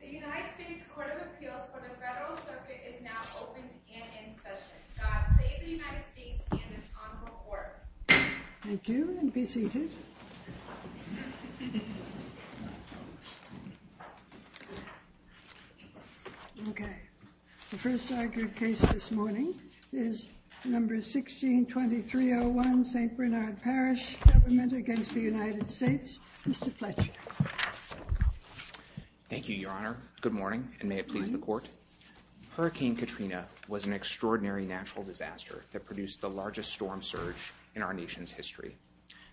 The United States Court of Appeals for the Federal Circuit is now open and in session. The first argued case this morning is number 16-2301 St. Bernard Parish Government v. United States. Mr. Fletcher. Thank you, Your Honor. Good morning, and may it please the Court. Hurricane Katrina was an extraordinary natural disaster that produced the largest storm surge in our nation's history.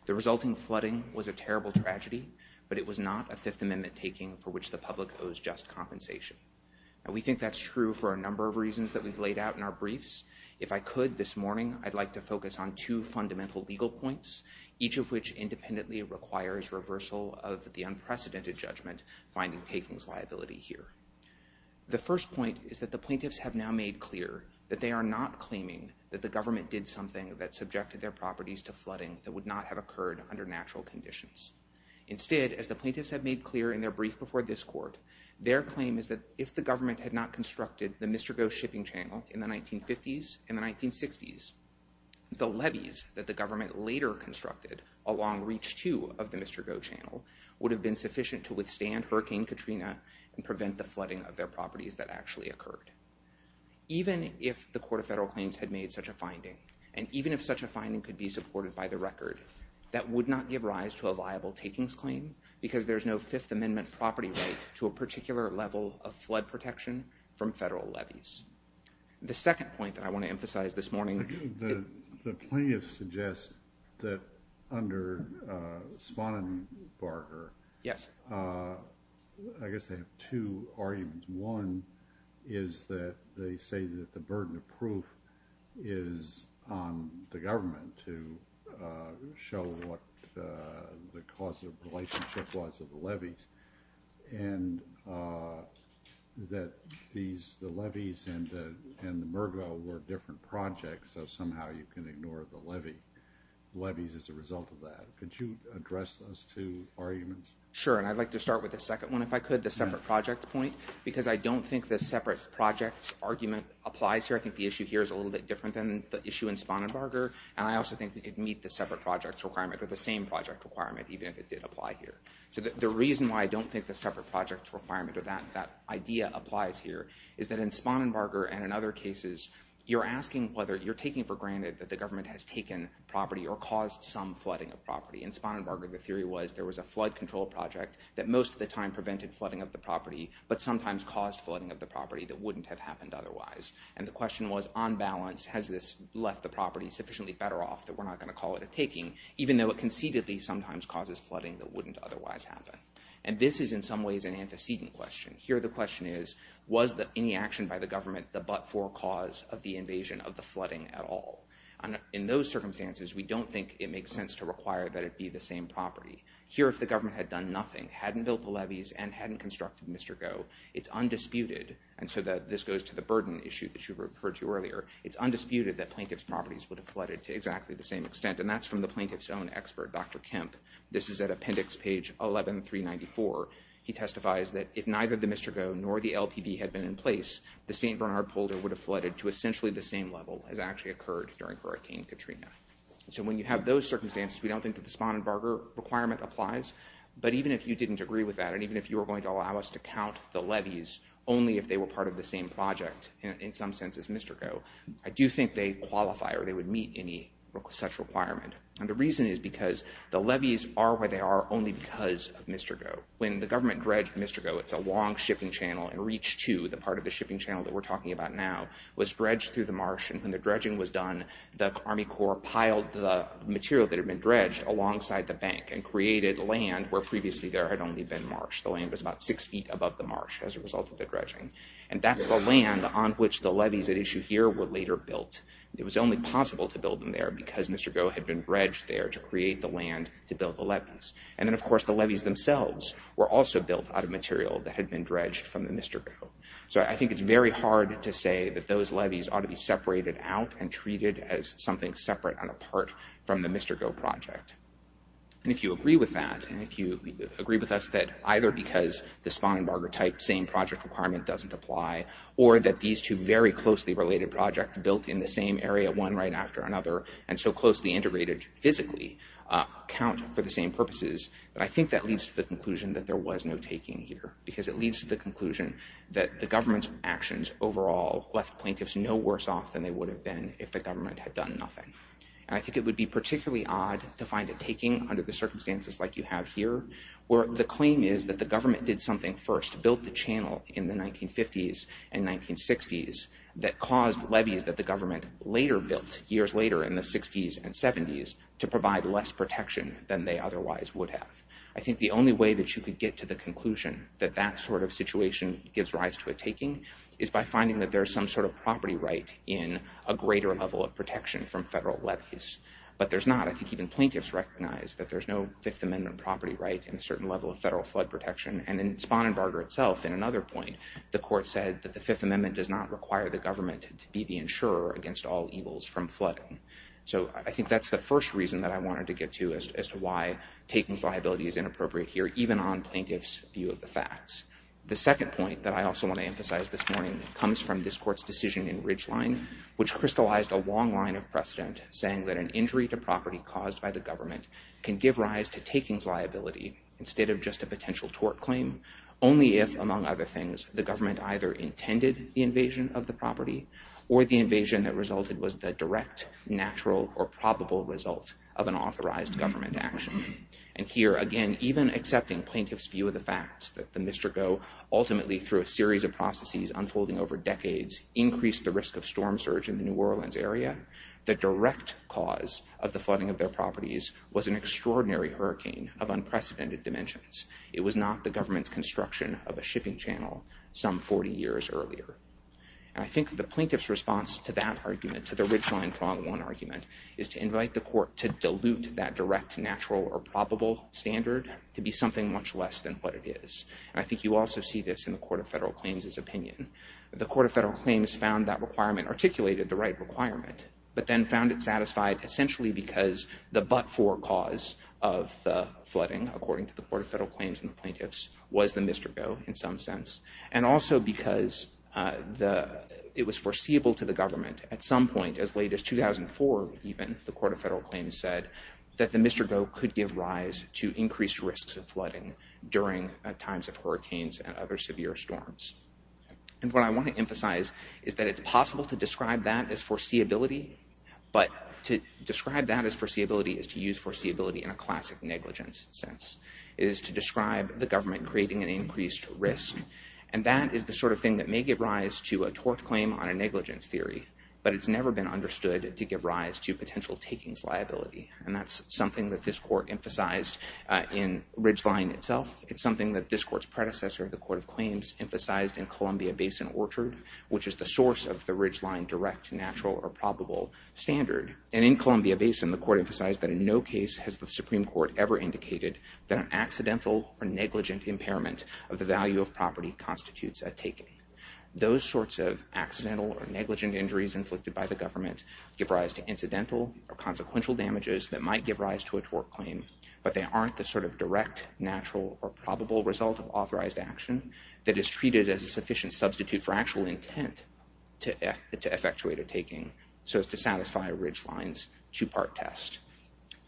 The resulting flooding was a terrible tragedy, but it was not a Fifth Amendment taking for which the public owes just compensation. We think that's true for a number of reasons that we've laid out in our briefs. If I could this morning, I'd like to focus on two fundamental legal points, each of which independently requires reversal of the unprecedented judgment finding takings liability here. The first point is that the plaintiffs have now made clear that they are not claiming that the government did something that subjected their properties to flooding that would not have occurred under natural conditions. Instead, as the plaintiffs have made clear in their brief before this Court, their claim is that if the government had not constructed the Mr. Go shipping channel in the 1950s and the 1960s, the levees that the government later constructed along Reach 2 of the Mr. Go channel would have been sufficient to withstand Hurricane Katrina and prevent the flooding of their properties that actually occurred. Even if the Court of Federal Claims had made such a finding, and even if such a finding could be supported by the record, that would not give rise to a viable takings claim because there's no Fifth Amendment property right to a particular level of flood protection from federal levees. The second point that I want to emphasize this morning is that the plaintiffs suggest that under Spanenbarger, I guess they have two arguments. One is that they say that the burden of proof is on the government to show what the causal relationship was of the levees, and that the levees and the Mr. Go were different projects, so somehow you can ignore the levees as a result of that. Could you address those two arguments? Sure, and I'd like to start with the second one if I could, the separate project point, because I don't think the separate project argument applies here. I think the issue here is a little bit different than the issue in Spanenbarger, and I also think it would meet the separate project requirement or the same project requirement, even if it did apply here. So the reason why I don't think the separate project requirement or that idea applies here is that in Spanenbarger and in other cases, you're asking whether you're taking for granted that the government has taken property or caused some flooding of property. In Spanenbarger, the theory was there was a flood control project that most of the time prevented flooding of the property, but sometimes caused flooding of the property that wouldn't have happened otherwise. And the question was, on balance, has this left the property sufficiently better off that we're not going to call it a taking, even though it concededly sometimes causes flooding that wouldn't otherwise happen? And this is in some ways an antecedent question. Here the question is, was any action by the government the but-for cause of the invasion of the flooding at all? In those circumstances, we don't think it makes sense to require that it be the same property. Here, if the government had done nothing, hadn't built the levees, and hadn't constructed Mr. Goh, it's undisputed. And so this goes to the burden issue that you referred to earlier. It's undisputed that plaintiff's properties would have flooded to exactly the same extent, and that's from the plaintiff's own expert, Dr. Kemp. This is at appendix page 11394. He testifies that if neither the Mr. Goh nor the LPV had been in place, the St. Bernard Boulder would have flooded to essentially the same level as actually occurred during Hurricane Katrina. So when you have those circumstances, we don't think that the Spannenberger requirement applies. But even if you didn't agree with that, and even if you were going to allow us to count the levees only if they were part of the same project, in some sense as Mr. Goh, I do think they qualify or they would meet any such requirement. And the reason is because the levees are where they are only because of Mr. Goh. When the government dredged Mr. Goh, it's a long shipping channel, and Reach 2, the part of the shipping channel that we're talking about now, was dredged through the marsh. And when the dredging was done, the Army Corps piled the material that had been dredged alongside the bank and created land where previously there had only been marsh. The land was about six feet above the marsh as a result of the dredging. And that's the land on which the levees at issue here were later built. It was only possible to build them there because Mr. Goh had been dredged there to create the land to build the levees. And then, of course, the levees themselves were also built out of material that had been dredged from the Mr. Goh. So I think it's very hard to say that those levees ought to be separated out and treated as something separate and apart from the Mr. Goh project. And if you agree with that, and if you agree with us that either because the Spangenberger-type same project requirement doesn't apply, or that these two very closely related projects built in the same area one right after another and so closely integrated physically count for the same purposes, I think that leads to the conclusion that there was no taking here. Because it leads to the conclusion that the government's actions overall left plaintiffs no worse off than they would have been if the government had done nothing. And I think it would be particularly odd to find a taking under the circumstances like you have here, where the claim is that the government did something first, built the channel in the 1950s and 1960s, that caused levees that the government later built, years later in the 60s and 70s, to provide less protection than they otherwise would have. I think the only way that you could get to the conclusion that that sort of situation gives rise to a taking is by finding that there's some sort of property right in a greater level of protection from federal levees. But there's not. I think even plaintiffs recognize that there's no Fifth Amendment property right in a certain level of federal flood protection. And in Spangenberger itself, in another point, the court said that the Fifth Amendment does not require the government to be the insurer against all evils from flooding. So I think that's the first reason that I wanted to get to as to why taking liability is inappropriate here, even on plaintiffs' view of the facts. The second point that I also want to emphasize this morning comes from this court's decision in Ridgeline, which crystallized a long line of precedent saying that an injury to property caused by the government can give rise to takings liability instead of just a potential tort claim, only if, among other things, the government either intended the invasion of the property or the invasion that resulted was the direct, natural, or probable result of an authorized government action. And here, again, even accepting plaintiffs' view of the facts that the Mistreko ultimately, through a series of processes unfolding over decades, increased the risk of storm surge in the New Orleans area, the direct cause of the flooding of their properties was an extraordinary hurricane of unprecedented dimensions. It was not the government's construction of a shipping channel some 40 years earlier. And I think the plaintiff's response to that argument, to the Ridgeline Prong 1 argument, is to invite the court to dilute that direct, natural, or probable standard to be something much less than what it is. And I think you also see this in the Court of Federal Claims' opinion. The Court of Federal Claims found that requirement articulated the right requirement, but then found it satisfied essentially because the but-for cause of the flooding, according to the Court of Federal Claims and the plaintiffs, was the Mistreko in some sense, and also because it was foreseeable to the government at some point as late as 2004, even, the Court of Federal Claims said, that the Mistreko could give rise to increased risks of flooding during times of hurricanes and other severe storms. And what I want to emphasize is that it's possible to describe that as foreseeability, but to describe that as foreseeability is to use foreseeability in a classic negligence sense. It is to describe the government creating an increased risk. And that is the sort of thing that may give rise to a tort claim on a negligence theory, but it's never been understood to give rise to potential takings liability. And that's something that this court emphasized in Ridgeline itself. It's something that this court's predecessor, the Court of Claims, emphasized in Columbia Basin Orchard, which is the source of the Ridgeline direct, natural, or probable standard. And in Columbia Basin, the court emphasized that in no case has the Supreme Court ever indicated that an accidental or negligent impairment of the value of property constitutes a taking. Those sorts of accidental or negligent injuries inflicted by the government give rise to incidental or consequential damages that might give rise to a tort claim, but they aren't the sort of direct, natural, or probable result of authorized action that is treated as a sufficient substitute for actual intent to effectuate a taking, so as to satisfy Ridgeline's two-part test.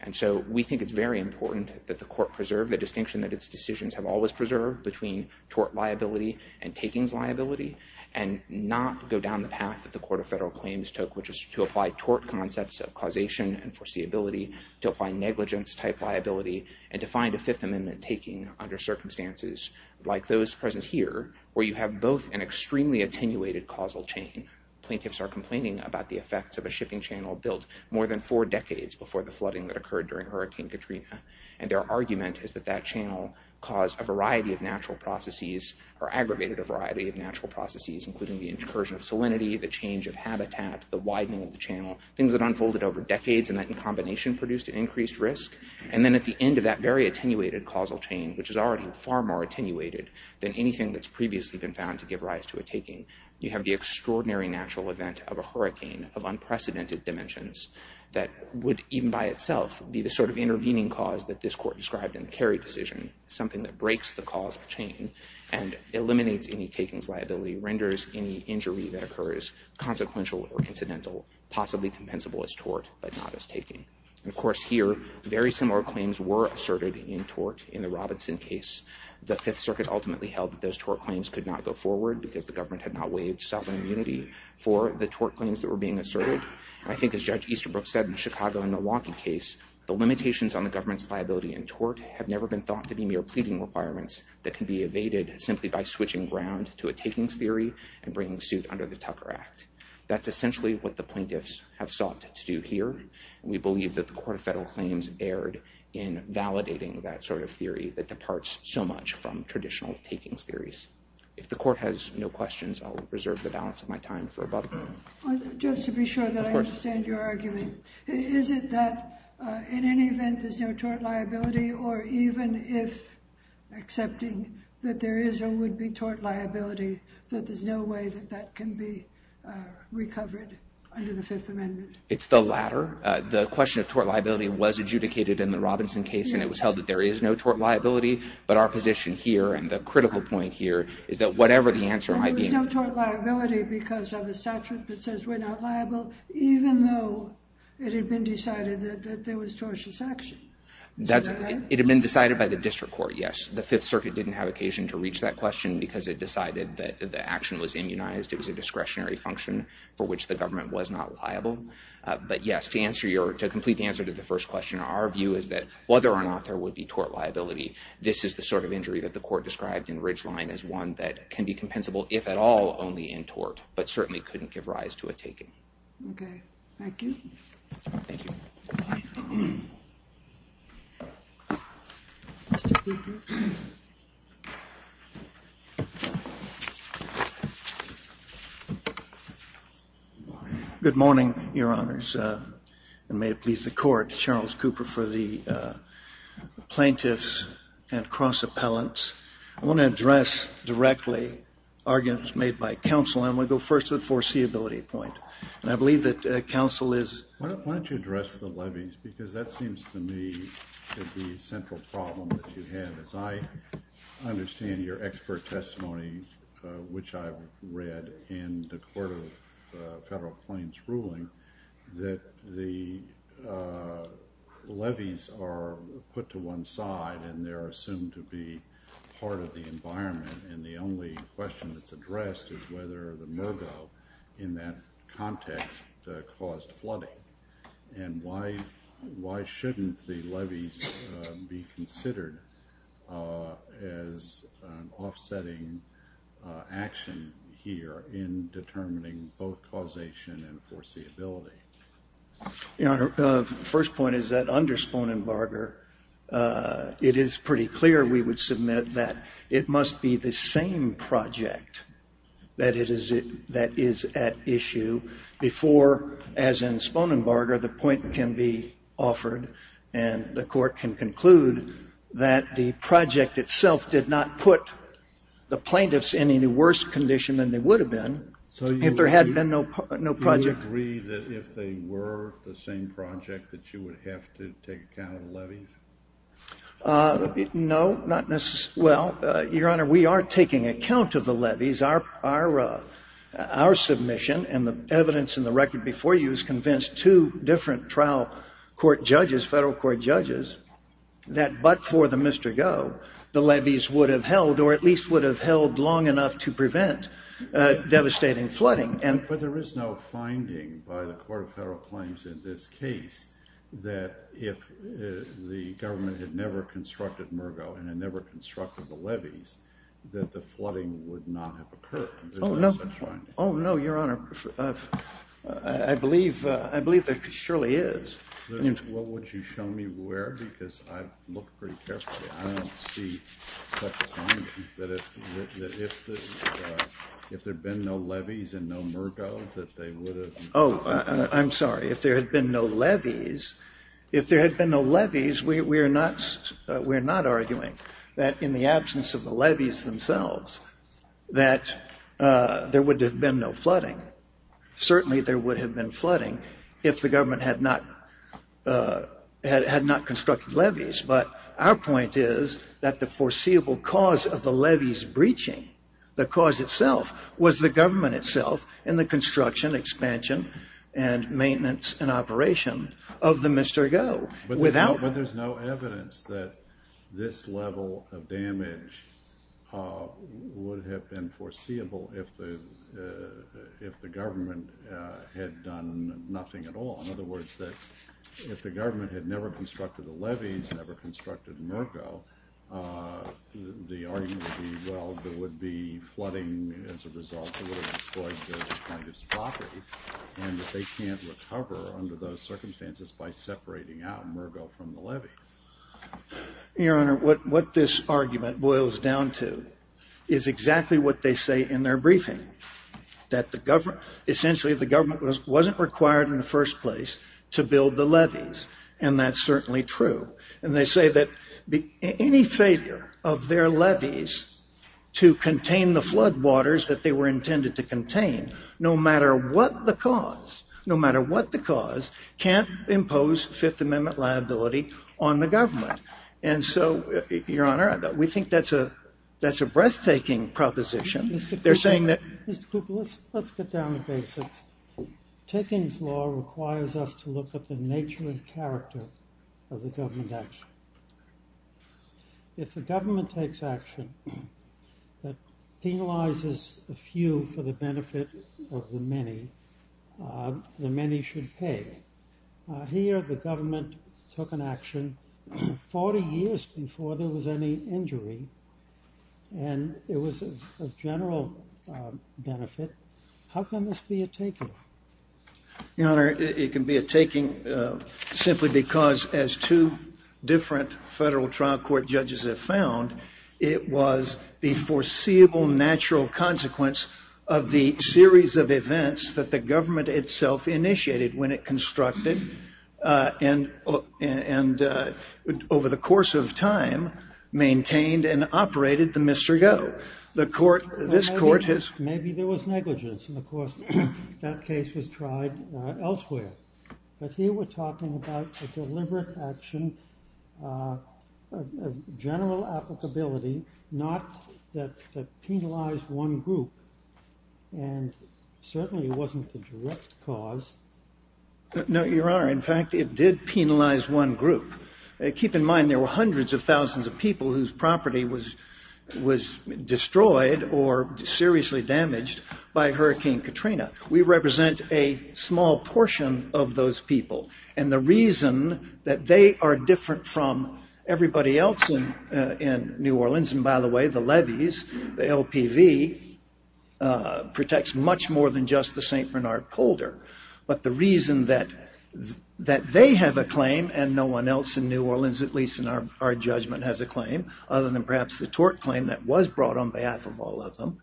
And so we think it's very important that the court preserve the distinction that its decisions have always preserved between tort liability and takings liability, and not go down the path that the Court of Federal Claims took, which is to apply tort concepts of causation and foreseeability, to apply negligence-type liability, and to find a Fifth Amendment taking under circumstances like those present here, where you have both an extremely attenuated causal chain. Plaintiffs are complaining about the effects of a shipping channel built more than four decades before the flooding that occurred during Hurricane Katrina, and their argument is that that channel caused a variety of natural processes, or aggravated a variety of natural processes, including the incursion of salinity, the change of habitat, the widening of the channel, things that unfolded over decades and that in combination produced an increased risk. And then at the end of that very attenuated causal chain, which is already far more attenuated than anything that's previously been found to give rise to a taking, you have the extraordinary natural event of a hurricane of unprecedented dimensions that would even by itself be the sort of intervening cause that this Court described in the Kerry decision, something that breaks the causal chain and eliminates any takings liability, renders any injury that occurs consequential or incidental, possibly compensable as tort, but not as taking. And of course here, very similar claims were asserted in tort in the Robinson case. The Fifth Circuit ultimately held that those tort claims could not go forward because the government had not waived sovereign immunity for the tort claims that were being asserted. I think as Judge Easterbrook said in the Chicago and Milwaukee case, the limitations on the government's liability in tort have never been thought to be mere pleading requirements that can be evaded simply by switching ground to a takings theory and bringing suit under the Tucker Act. That's essentially what the plaintiffs have sought to do here. We believe that the Court of Federal Claims erred in validating that sort of theory that departs so much from traditional takings theories. If the Court has no questions, I'll reserve the balance of my time for a bubble. Just to be sure that I understand your argument, is it that in any event there's no tort liability or even if accepting that there is a would-be tort liability, that there's no way that that can be recovered under the Fifth Amendment? It's the latter. The question of tort liability was adjudicated in the Robinson case and it was held that there is no tort liability. But our position here and the critical point here is that whatever the answer might be... And there was no tort liability because of the statute that says we're not liable even though it had been decided that there was tortious action. It had been decided by the district court, yes. The Fifth Circuit didn't have occasion to reach that question because it decided that the action was immunized. It was a discretionary function for which the government was not liable. But yes, to complete the answer to the first question, our view is that whether or not there would be tort liability, this is the sort of injury that the court described in Ridgeline as one that can be compensable if at all only in tort, but certainly couldn't give rise to a taking. Okay. Thank you. Thank you. Good morning, Your Honors. And may it please the Court, Charles Cooper for the plaintiffs and cross-appellants. I want to address directly arguments made by counsel and I'm going to go first to the foreseeability point. And I believe that counsel is... Why don't you address the levies because that seems to me to be a central problem that you have. As I understand your expert testimony, which I've read in the Court of Federal Plaintiffs' ruling, that the levies are put to one side and they're assumed to be part of the environment and the only question that's addressed is whether the MoGo in that context caused flooding. And why shouldn't the levies be considered as an offsetting action here in determining both causation and foreseeability? Your Honor, the first point is that under Sponenbarger, it is pretty clear we would submit that it must be the same project that is at issue before, as in Sponenbarger, the point can be offered and the court can conclude that the project itself did not put the plaintiffs in any worse condition than they would have been if there had been no project. Do you agree that if they were the same project that you would have to take account of the levies? No, not necessarily. Well, Your Honor, we are taking account of the levies. Our submission and the evidence in the record before you has convinced two different trial court judges, federal court judges, that but for the Mr. Go, the levies would have held or at least would have held long enough to prevent devastating flooding. But there is no finding by the Court of Federal Claims in this case that if the government had never constructed MoGo and had never constructed the levies that the flooding would not have occurred. Oh, no, Your Honor. I believe there surely is. What would you show me where? Because I've looked pretty carefully. I don't see such a finding that if there had been no levies and no MoGo that they would have... Oh, I'm sorry. If there had been no levies, we're not arguing that in the absence of the levies themselves that there would have been no flooding. Certainly there would have been flooding if the government had not constructed levies. But our point is that the foreseeable cause of the levies breaching the cause itself was the government itself and the construction, expansion, and maintenance and operation of the Mr. Go. But there's no evidence that this level of damage would have been foreseeable if the government had done nothing at all. In other words, if the government had never constructed the levies, never constructed MoGo, the argument would be, well, there would be flooding as a result that would have destroyed this kind of property and that they can't recover under those circumstances by separating out MoGo from the levies. Your Honor, what this argument boils down to is exactly what they say in their briefing, that essentially the government wasn't required in the first place to build the levies, and that's certainly true. And they say that any failure of their levies to contain the floodwaters that they were intended to contain, no matter what the cause, no matter what the cause, can't impose Fifth Amendment liability on the government. And so, Your Honor, we think that's a breathtaking proposition. They're saying that... Mr. Cooper, let's get down to basics. Ticking's law requires us to look at the nature and character of the government action. If the government takes action that penalizes a few for the benefit of the many, the many should pay. Here, the government took an action 40 years before there was any injury, and it was of general benefit. How can this be a taking? Your Honor, it can be a taking simply because, as two different federal trial court judges have found, it was the foreseeable natural consequence of the series of events that the government itself initiated when it constructed, and over the course of time, maintained and operated the Mr. Go. The court, this court has... Maybe there was negligence, and, of course, that case was tried elsewhere. But here we're talking about a deliberate action, general applicability, not that penalized one group, and certainly it wasn't the direct cause. No, Your Honor, in fact, it did penalize one group. Keep in mind, there were hundreds of thousands of people whose property was destroyed or seriously damaged by Hurricane Katrina. We represent a small portion of those people, and the reason that they are different from everybody else in New Orleans, and by the way, the levies, the LPV, protects much more than just the St. Bernard polder. But the reason that they have a claim and no one else in New Orleans, at least in our judgment, has a claim, other than perhaps the tort claim that was brought on behalf of all of them,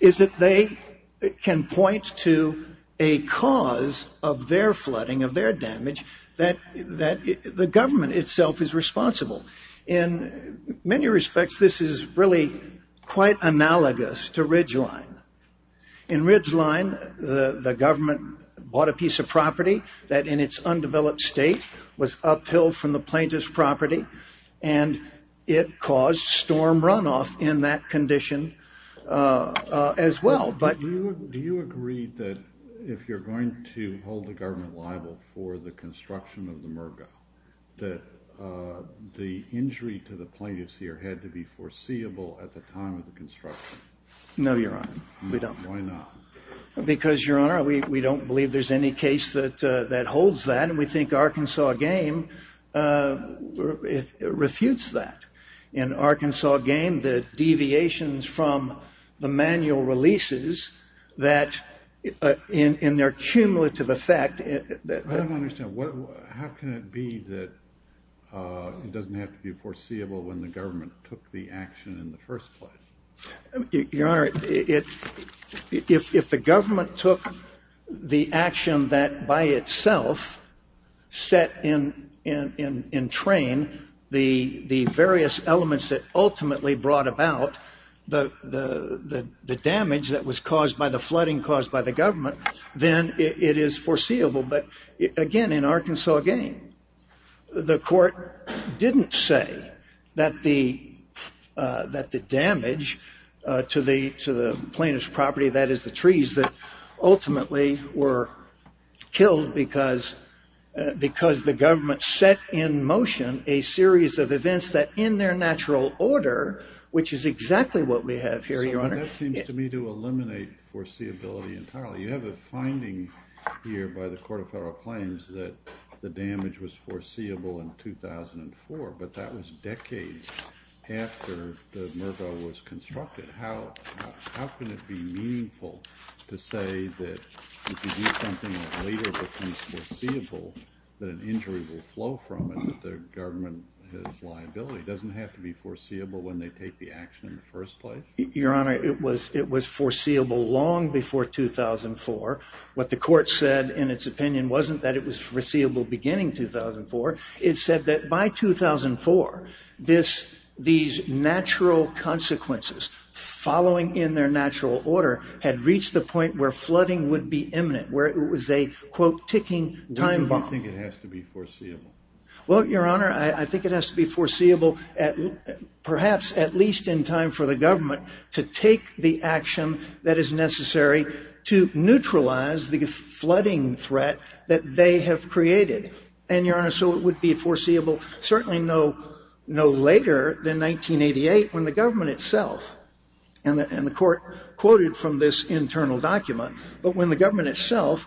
is that they can point to a cause of their flooding, of their damage, that the government itself is responsible. In many respects, this is really quite analogous to Ridgeline. In Ridgeline, the government bought a piece of property that in its undeveloped state was uphill from the plaintiff's property, and it caused storm runoff in that condition as well. But do you agree that if you're going to hold the government liable for the construction of the Mergo, that the injury to the plaintiffs here had to be foreseeable at the time of the construction? No, Your Honor, we don't. Why not? Because, Your Honor, we don't believe there's any case that holds that, and we think Arkansas Game refutes that. In Arkansas Game, the deviations from the manual releases that in their cumulative effect... I don't understand. How can it be that it doesn't have to be foreseeable when the government took the action in the first place? Your Honor, if the government took the action that by itself set in train the various elements that ultimately brought about the damage that was caused by the flooding caused by the government, then it is foreseeable. But again, in Arkansas Game, the court didn't say that the damage to the plaintiff's property, that is the trees, that ultimately were killed because the government set in motion a series of events that in their natural order, which is exactly what we have here, Your Honor... So that seems to me to eliminate foreseeability entirely. You have a finding here by the Court of Federal Claims that the damage was foreseeable in 2004, but that was decades after the Mergo was constructed. How can it be meaningful to say that if you do something that later becomes foreseeable, that an injury will flow from it, that the government has liability? It doesn't have to be foreseeable when they take the action in the first place? Your Honor, it was foreseeable long before 2004. What the court said in its opinion wasn't that it was foreseeable beginning 2004. It said that by 2004, these natural consequences, following in their natural order, had reached the point where flooding would be imminent, where it was a, quote, ticking time bomb. Why do you think it has to be foreseeable? Well, Your Honor, I think it has to be foreseeable perhaps at least in time for the government to take the action that is necessary to neutralize the flooding threat that they have created. And, Your Honor, so it would be foreseeable certainly no later than 1988 when the government itself, and the court quoted from this internal document, but when the government itself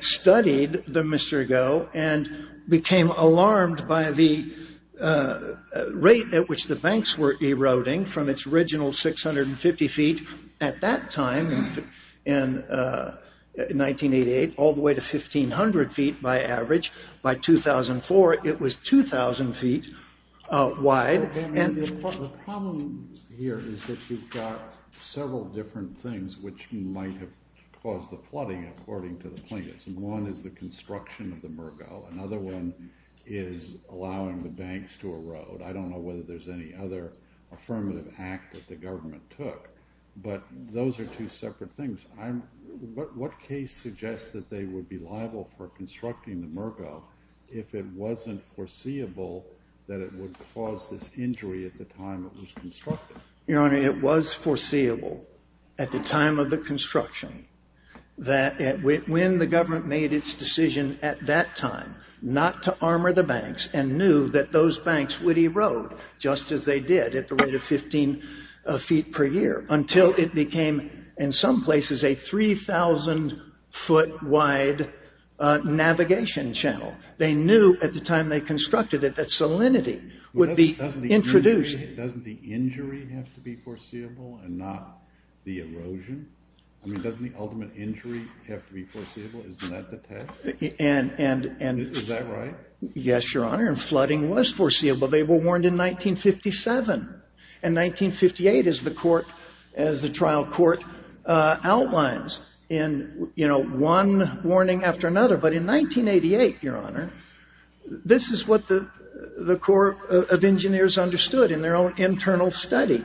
studied the Mr. Mergo and became alarmed by the rate at which the banks were eroding from its original 650 feet at that time in 1988 all the way to 1,500 feet by average. By 2004, it was 2,000 feet wide. Your Honor, the problem here is that you've got several different things which might have caused the flooding according to the plaintiffs. One is the construction of the Mergo. Another one is allowing the banks to erode. I don't know whether there's any other affirmative act that the government took, but those are two separate things. What case suggests that they would be liable for constructing the Mergo if it wasn't foreseeable that it would cause this injury at the time it was constructed? Your Honor, it was foreseeable at the time of the construction that when the government made its decision at that time not to armor the banks and knew that those banks would erode just as they did at the rate of 15 feet per year until it became in some places a 3,000 foot wide navigation channel. They knew at the time they constructed it that salinity would be introduced. Doesn't the injury have to be foreseeable and not the erosion? I mean, doesn't the ultimate injury have to be foreseeable? Isn't that the test? Is that right? Yes, Your Honor, and flooding was foreseeable. They were warned in 1957. In 1958, as the trial court outlines, in one warning after another, but in 1988, Your Honor, this is what the Corps of Engineers understood in their own internal study.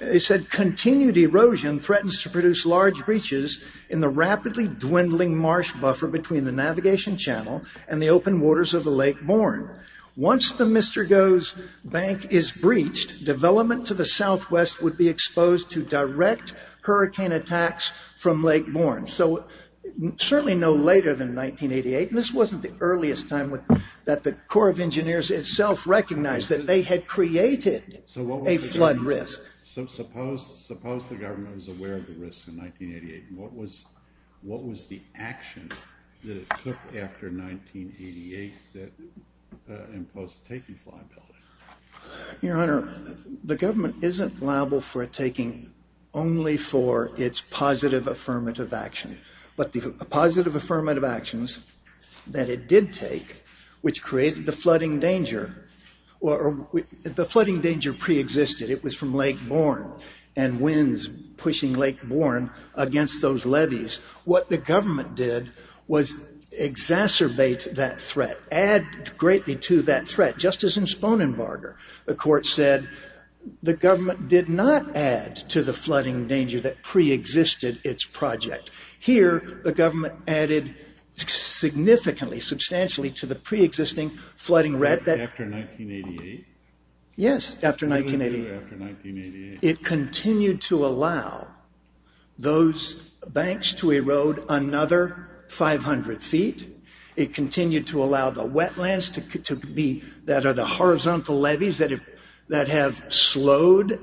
It said, Continued erosion threatens to produce large breaches in the rapidly dwindling marsh buffer between the navigation channel and the open waters of the Lake Bourne. Once the Mr. Goh's Bank is breached, development to the southwest would be exposed to direct hurricane attacks from Lake Bourne. Certainly no later than 1988, and this wasn't the earliest time that the Corps of Engineers itself recognized that they had created a flood risk. Suppose the government was aware of the risk in 1988. What was the action that it took after 1988 that imposed takings liability? Your Honor, the government isn't liable for a taking only for its positive affirmative action, but the positive affirmative actions that it did take, which created the flooding danger, the flooding danger preexisted. It was from Lake Bourne and winds pushing Lake Bourne against those levees. What the government did was exacerbate that threat, add greatly to that threat, just as in Sponenbarger. The court said the government did not add to the flooding danger that preexisted its project. Here, the government added significantly, substantially to the preexisting flooding threat. After 1988? Yes, after 1988. What did it do after 1988? It continued to allow those banks to erode another 500 feet. It continued to allow the wetlands that are the horizontal levees that have slowed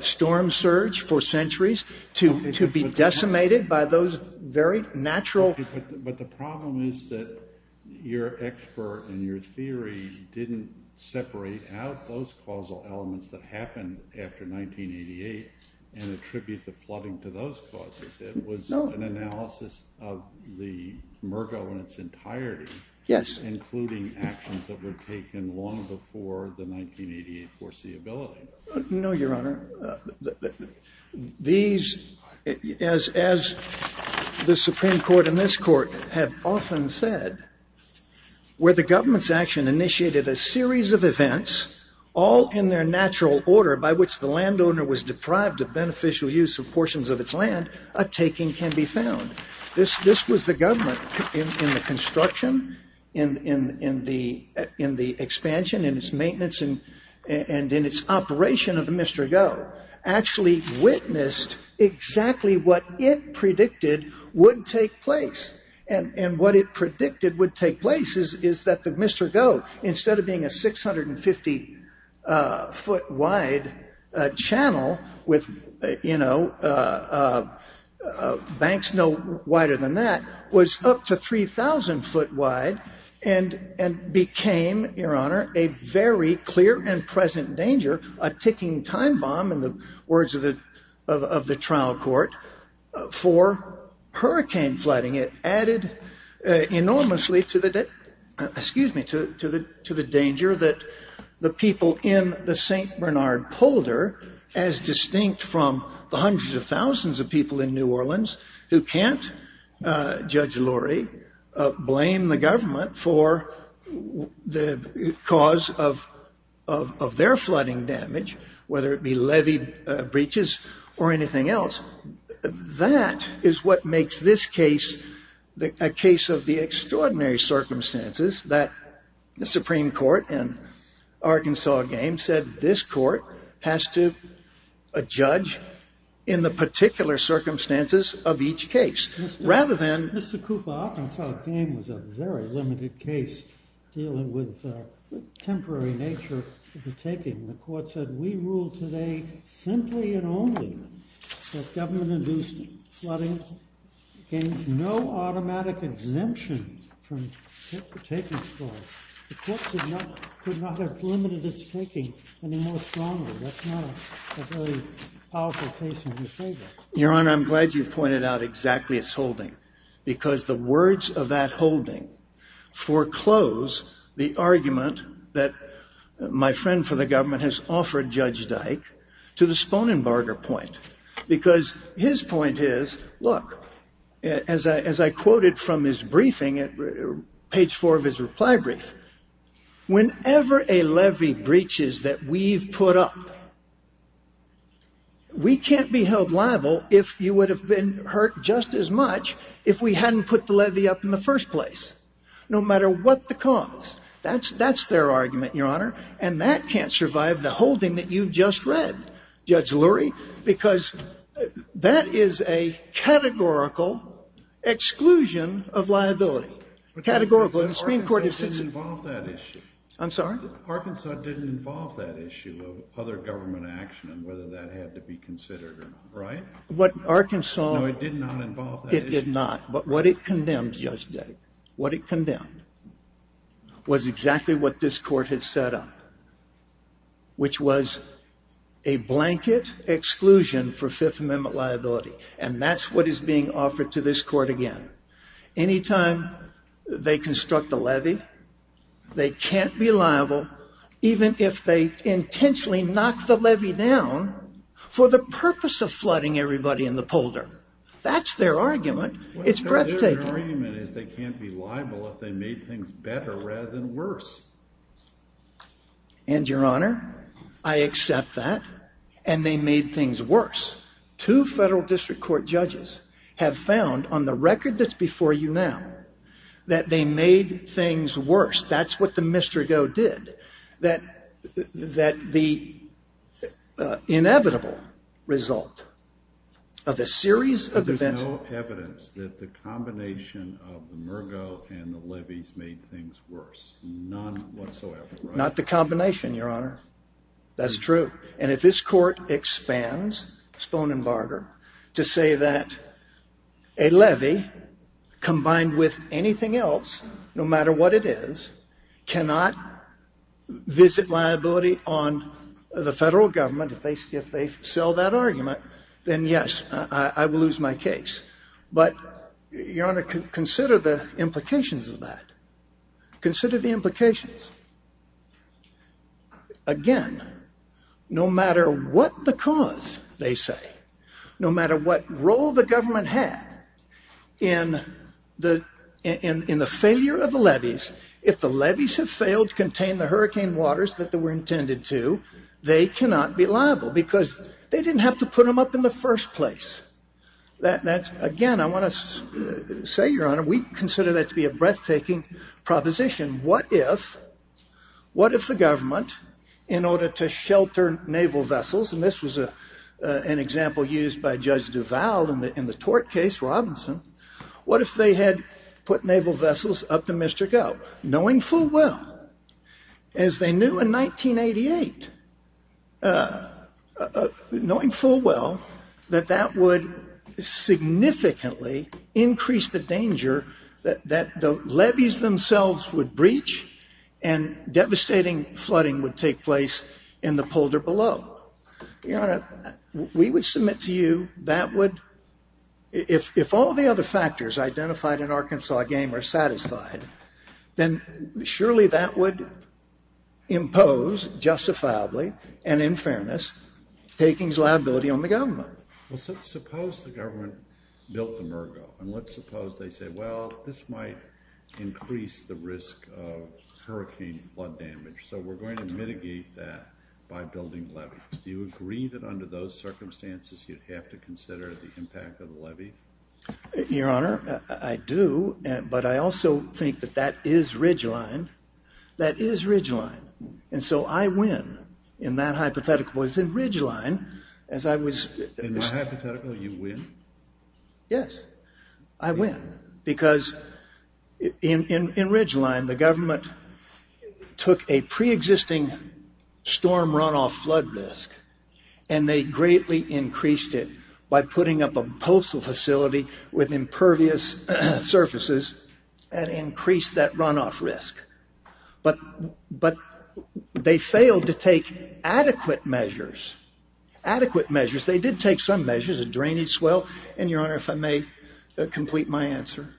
storm surge for centuries to be decimated by those very natural... But the problem is that your expert and your theory didn't separate out those causal elements that happened after 1988 and attribute the flooding to those causes. It was an analysis of the Murr government's entirety, including actions that were taken long before the 1988 foreseeability. No, Your Honor. These, as the Supreme Court and this court have often said, where the government's action initiated a series of events, all in their natural order, by which the landowner was deprived of beneficial use of portions of its land, a taking can be found. This was the government in the construction, in the expansion, in its maintenance, and in its operation of the Mr. Goh, actually witnessed exactly what it predicted would take place. And what it predicted would take place is that the Mr. Goh, instead of being a 650 foot wide channel with banks no wider than that, was up to 3,000 foot wide and became, Your Honor, a very clear and present danger, a ticking time bomb, in the words of the trial court, for hurricane flooding. It added enormously to the danger that the people in the St. Bernard polder, as distinct from the hundreds of thousands of people in New Orleans who can't, Judge Lurie, blame the government for the cause of their flooding damage, whether it be levee breaches or anything else. That is what makes this case a case of the extraordinary circumstances that the Supreme Court in Arkansas Game said this court has to judge in the particular circumstances of each case. Rather than... Mr. Cooper, Arkansas Game was a very limited case dealing with the temporary nature of the taking. The court said, We rule today, simply and only, that government-induced flooding gains no automatic exemption from the taking score. The court could not have limited its taking any more strongly. That's not a very powerful case in your favor. Your Honor, I'm glad you've pointed out exactly its holding, because the words of that holding foreclose the argument that my friend for the government has offered Judge Dyke to the Sponenbarger point, because his point is, look, as I quoted from his briefing, page four of his reply brief, whenever a levee breaches that we've put up, we can't be held liable if you would have been hurt just as much if we hadn't put the levee up in the first place, no matter what the cause. That's their argument, Your Honor, and that can't survive the holding that you've just read, Judge Lurie, because that is a categorical exclusion of liability. Categorical. But Arkansas didn't involve that issue. I'm sorry? Arkansas didn't involve that issue of other government action and whether that had to be considered, right? What Arkansas... No, it did not involve that issue. It did not. But what it condemned, Judge Dyke, what it condemned was exactly what this court had set up, which was a blanket exclusion for Fifth Amendment liability, and that's what is being offered to this court again. Anytime they construct a levee, they can't be liable even if they intentionally knock the levee down for the purpose of flooding everybody in the polder. That's their argument. It's breathtaking. Their argument is they can't be liable if they made things better rather than worse. And, Your Honor, I accept that, and they made things worse. Two federal district court judges have found on the record that's before you now that they made things worse. That's what the Mr. Go did, that the inevitable result of a series of events... There's no evidence that the combination of the Mr. Go and the levees made things worse. None whatsoever. Not the combination, Your Honor. That's true. And if this court expands Spohn and Barger to say that a levee combined with anything else, no matter what it is, cannot visit liability on the federal government if they sell that argument, then, yes, I will lose my case. But, Your Honor, consider the implications of that. Consider the implications. Again, no matter what the cause, they say, no matter what role the government had in the failure of the levees, if the levees have failed to contain the hurricane waters that they were intended to, they cannot be liable because they didn't have to put them up in the first place. Again, I want to say, Your Honor, we consider that to be a breathtaking proposition. What if the government, in order to shelter naval vessels, and this was an example used by Judge Duval in the tort case, Robinson, what if they had put naval vessels up to Mr. Go, knowing full well, as they knew in 1988, knowing full well that that would significantly increase the danger that the levees themselves would breach and devastating flooding would take place in the polder below? Your Honor, we would submit to you that would, if all the other factors identified in Arkansas' game are satisfied, then surely that would impose, justifiably, and in fairness, takings liability on the government. Well, suppose the government built the Mergo, and let's suppose they say, well, this might increase the risk of hurricane flood damage, so we're going to mitigate that by building levees. Do you agree that under those circumstances you'd have to consider the impact of the levees? Your Honor, I do, but I also think that that is ridgeline. That is ridgeline. And so I win in that hypothetical. That was in ridgeline. In my hypothetical, you win? Yes, I win. Because in ridgeline, the government took a pre-existing storm runoff flood risk, and they greatly increased it by putting up a postal facility with impervious surfaces and increased that runoff risk. But they failed to take adequate measures. Adequate measures. They did take some measures, a drainage swale, and Your Honor, if I may complete my answer.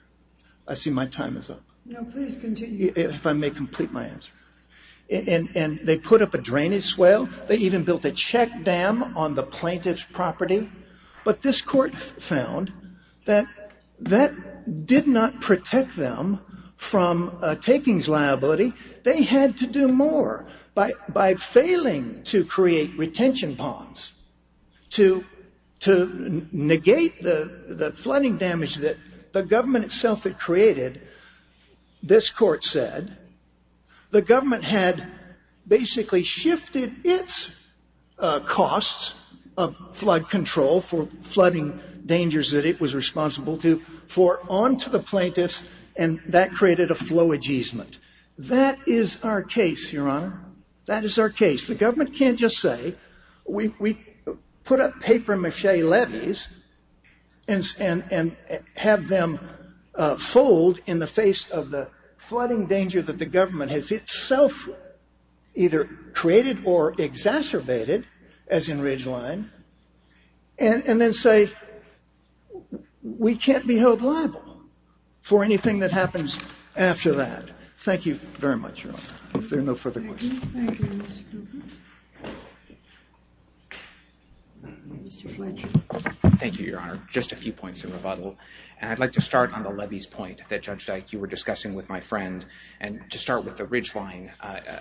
I see my time is up. No, please continue. If I may complete my answer. And they put up a drainage swale. They even built a check dam on the plaintiff's property. But this court found that that did not protect them from a takings liability. They had to do more by failing to create retention ponds to negate the flooding damage that the government itself had created. This court said the government had basically shifted its costs of flood control for flooding dangers that it was responsible to for onto the plaintiffs, and that created a flowage easement. That is our case, Your Honor. That is our case. The government can't just say we put up papier-mâché levees and have them fold in the face of the flooding danger that the government has itself either created or exacerbated, as in Ridgeline, and then say we can't be held liable for anything that happens after that. Thank you very much, Your Honor. If there are no further questions. Thank you, Your Honor. Just a few points in rebuttal. And I'd like to start on the levees point that, Judge Dyke, you were discussing with my friend, and to start with the Ridgeline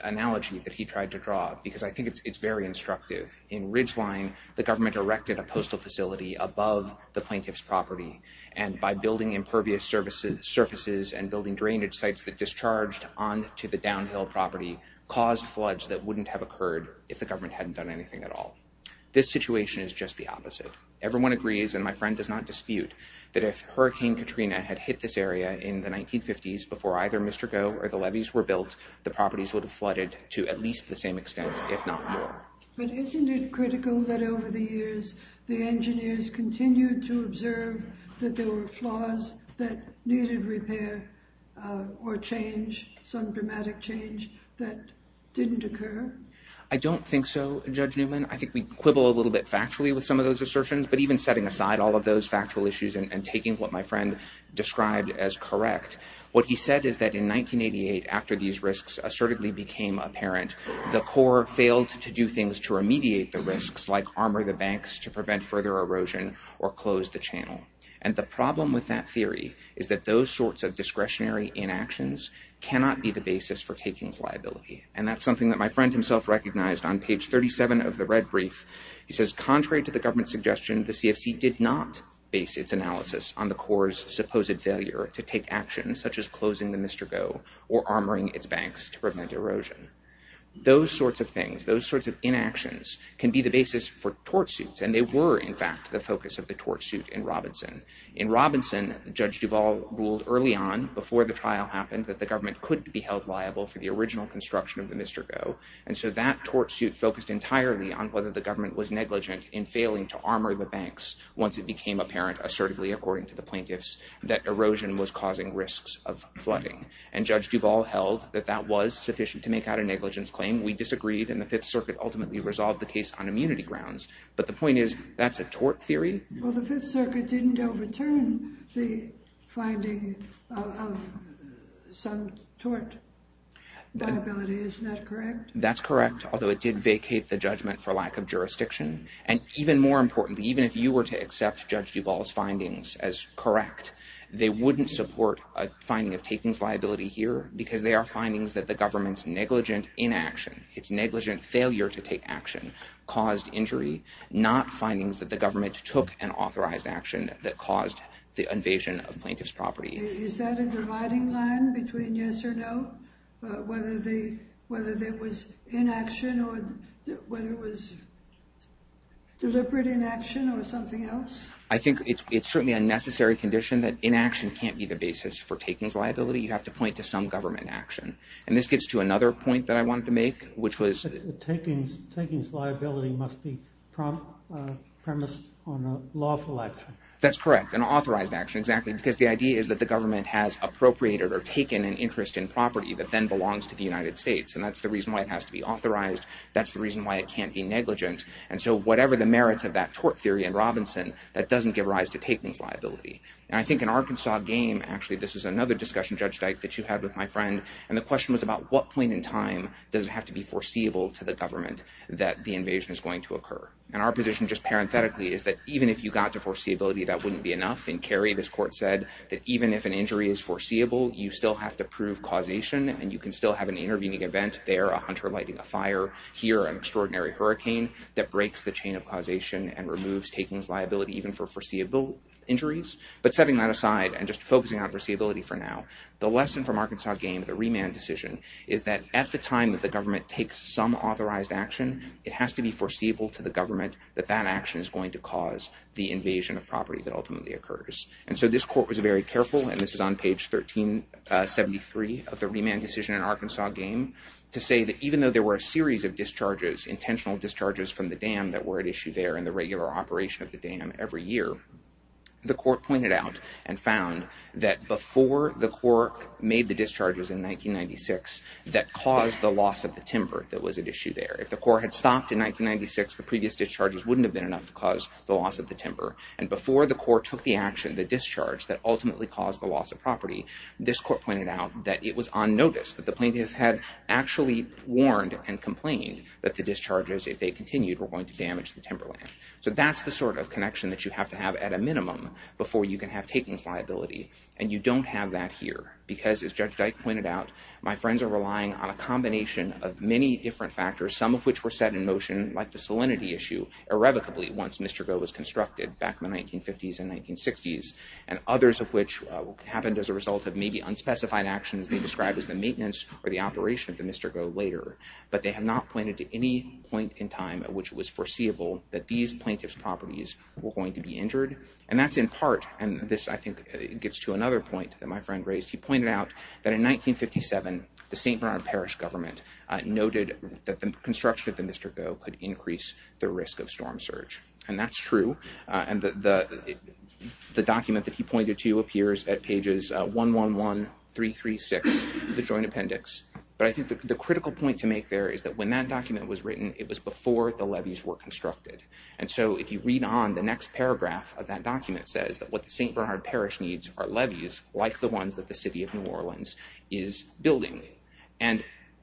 analogy that he tried to draw, because I think it's very instructive. In Ridgeline, the government erected a postal facility above the plaintiff's property, and by building impervious surfaces and building drainage sites that discharged onto the downhill property caused floods that wouldn't have occurred if the government hadn't done anything at all. This situation is just the opposite. Everyone agrees, and my friend does not dispute, that if Hurricane Katrina had hit this area in the 1950s before either Mr. Goh or the levees were built, the properties would have flooded to at least the same extent, if not more. But isn't it critical that over the years the engineers continued to observe that there were flaws that needed repair or change, some dramatic change, that didn't occur? I don't think so, Judge Newman. I think we quibble a little bit factually with some of those assertions, but even setting aside all of those factual issues and taking what my friend described as correct, what he said is that in 1988, after these risks assertedly became apparent, the Corps failed to do things to remediate the risks, like armor the banks to prevent further erosion or close the channel. And the problem with that theory is that those sorts of discretionary inactions cannot be the basis for takings liability. And that's something that my friend himself recognized on page 37 of the Red Brief. He says, contrary to the government's suggestion, the CFC did not base its analysis on the Corps' supposed failure to take actions, such as closing the Mr. Goh or armoring its banks to prevent erosion. Those sorts of things, those sorts of inactions, can be the basis for tort suits. And they were, in fact, the focus of the tort suit in Robinson. In Robinson, Judge Duval ruled early on, before the trial happened, that the government couldn't be held liable for the original construction of the Mr. Goh. And so that tort suit focused entirely on whether the government was negligent in failing to armor the banks once it became apparent, assertively according to the plaintiffs, that erosion was causing risks of flooding. And Judge Duval held that that was sufficient to make out a negligence claim. We disagreed, and the Fifth Circuit ultimately resolved the case on immunity grounds. But the point is, that's a tort theory. Well, the Fifth Circuit didn't overturn the finding of some tort liability. Isn't that correct? That's correct, although it did vacate the judgment for lack of jurisdiction. And even more importantly, even if you were to accept Judge Duval's findings as correct, they wouldn't support a finding of takings liability here because they are findings that the government's negligent inaction, its negligent failure to take action, caused injury, not findings that the government took an authorized action that caused the invasion of plaintiff's property. Is that a dividing line between yes or no? Whether there was inaction or whether it was deliberate inaction or something else? I think it's certainly a necessary condition that inaction can't be the basis for takings liability. You have to point to some government action. And this gets to another point that I wanted to make, which was... Takings liability must be premised on a lawful action. That's correct, an authorized action, exactly, because the idea is that the government has appropriated or taken an interest in property that then belongs to the United States. And that's the reason why it has to be authorized. That's the reason why it can't be negligent. And so whatever the merits of that tort theory in Robinson, that doesn't give rise to takings liability. And I think in Arkansas game, actually this was another discussion, Judge Dyke, that you had with my friend, and the question was about at what point in time does it have to be foreseeable to the government that the invasion is going to occur? And our position, just parenthetically, is that even if you got to foreseeability, that wouldn't be enough. In Kerry, this court said that even if an injury is foreseeable, you still have to prove causation and you can still have an intervening event there, a hunter lighting a fire here, an extraordinary hurricane that breaks the chain of causation and removes takings liability even for foreseeable injuries. But setting that aside and just focusing on foreseeability for now, the lesson from Arkansas game, the remand decision, is that at the time that the government takes some authorized action, it has to be foreseeable to the government that that action is going to cause the invasion of property that ultimately occurs. And so this court was very careful, and this is on page 1373 of the remand decision in Arkansas game, to say that even though there were a series of discharges, intentional discharges from the dam that were at issue there in the regular operation of the dam every year, the court pointed out and found that before the court made the discharges that caused the loss of the timber that was at issue there. If the court had stopped in 1996, the previous discharges wouldn't have been enough to cause the loss of the timber. And before the court took the action, the discharge that ultimately caused the loss of property, this court pointed out that it was on notice that the plaintiff had actually warned and complained that the discharges, if they continued, were going to damage the timber land. So that's the sort of connection that you have to have at a minimum before you can have takings liability. And you don't have that here because, as Judge Dyke pointed out, my friends are relying on a combination of many different factors, some of which were set in motion, like the salinity issue, irrevocably once Mr. Goh was constructed back in the 1950s and 1960s, and others of which happened as a result of maybe unspecified actions they described as the maintenance or the operation of the Mr. Goh later. But they have not pointed to any point in time at which it was foreseeable that these plaintiff's properties were going to be injured. And that's in part, and this I think gets to another point that my friend raised, he pointed out that in 1957, the St. Bernard Parish government noted that the construction of the Mr. Goh could increase the risk of storm surge. And that's true. And the document that he pointed to appears at pages 111336 of the Joint Appendix. But I think the critical point to make there is that when that document was written, it was before the levees were constructed. And so if you read on the next paragraph of that document says that what the St. Bernard Parish needs are levees like the ones that the St. Bernard Parish and the City of New Orleans is building. And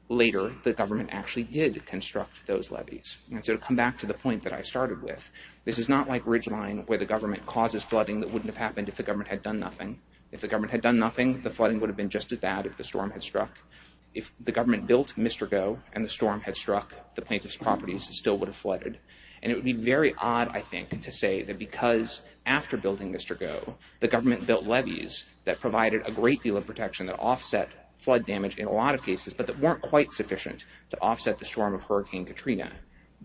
later, the government actually did construct those levees. And so to come back to the point that I started with, this is not like Ridgeline where the government causes flooding that wouldn't have happened if the government had done nothing. If the government had done nothing, the flooding would have been just as bad if the storm had struck. If the government built Mr. Goh and the storm had struck, the plaintiff's properties still would have flooded. And it would be very odd, I think, to say that because after building Mr. Goh, the government built levees that provided a great deal of protection that offset flood damage in a lot of cases but that weren't quite sufficient to offset the storm of Hurricane Katrina.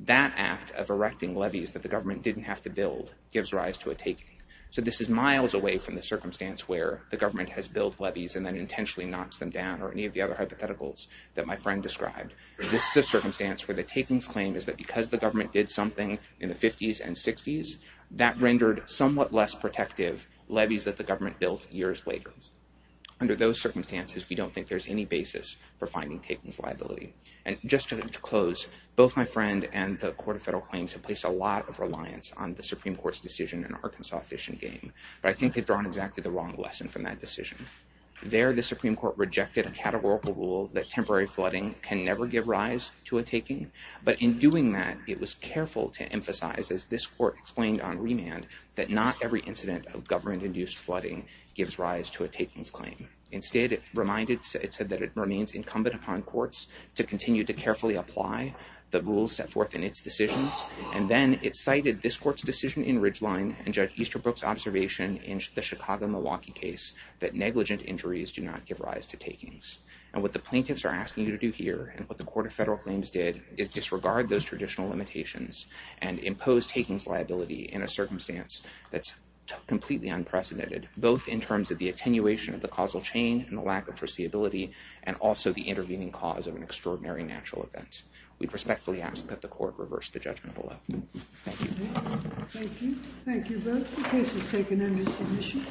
That act of erecting levees that the government didn't have to build gives rise to a taking. So this is miles away from the circumstance where the government has built levees and then intentionally knocks them down or any of the other hypotheticals that my friend described. This is a circumstance where the taking's claim is that because the government did something in the 50s and 60s, that rendered somewhat less protective levees that the government built years later. Under those circumstances, we don't think there's any basis for finding taking's liability. And just to close, both my friend and the Court of Federal Claims have placed a lot of reliance on the Supreme Court's decision in Arkansas Fish and Game. But I think they've drawn exactly the wrong lesson from that decision. There, the Supreme Court rejected a categorical rule that temporary flooding can never give rise to a taking. But in doing that, it was careful to emphasize, as this court explained on remand, that not every incident of government-induced flooding gives rise to a taking's claim. Instead, it reminded, it said that it remains incumbent upon courts to continue to carefully apply the rules set forth in its decisions. And then it cited this court's decision in Ridgeline and Judge Easterbrook's observation in the Chicago-Milwaukee case that negligent injuries do not give rise to taking's. And what the plaintiffs are asking you to do here and what the Court of Federal Claims did is disregard those traditional limitations and impose taking's liability in a circumstance that's completely unprecedented, both in terms of the attenuation of the causal chain and the lack of foreseeability and also the intervening cause of an extraordinary natural event. We respectfully ask that the Court reverse the judgment below. Thank you. Thank you. Thank you both. The case is taken under submission.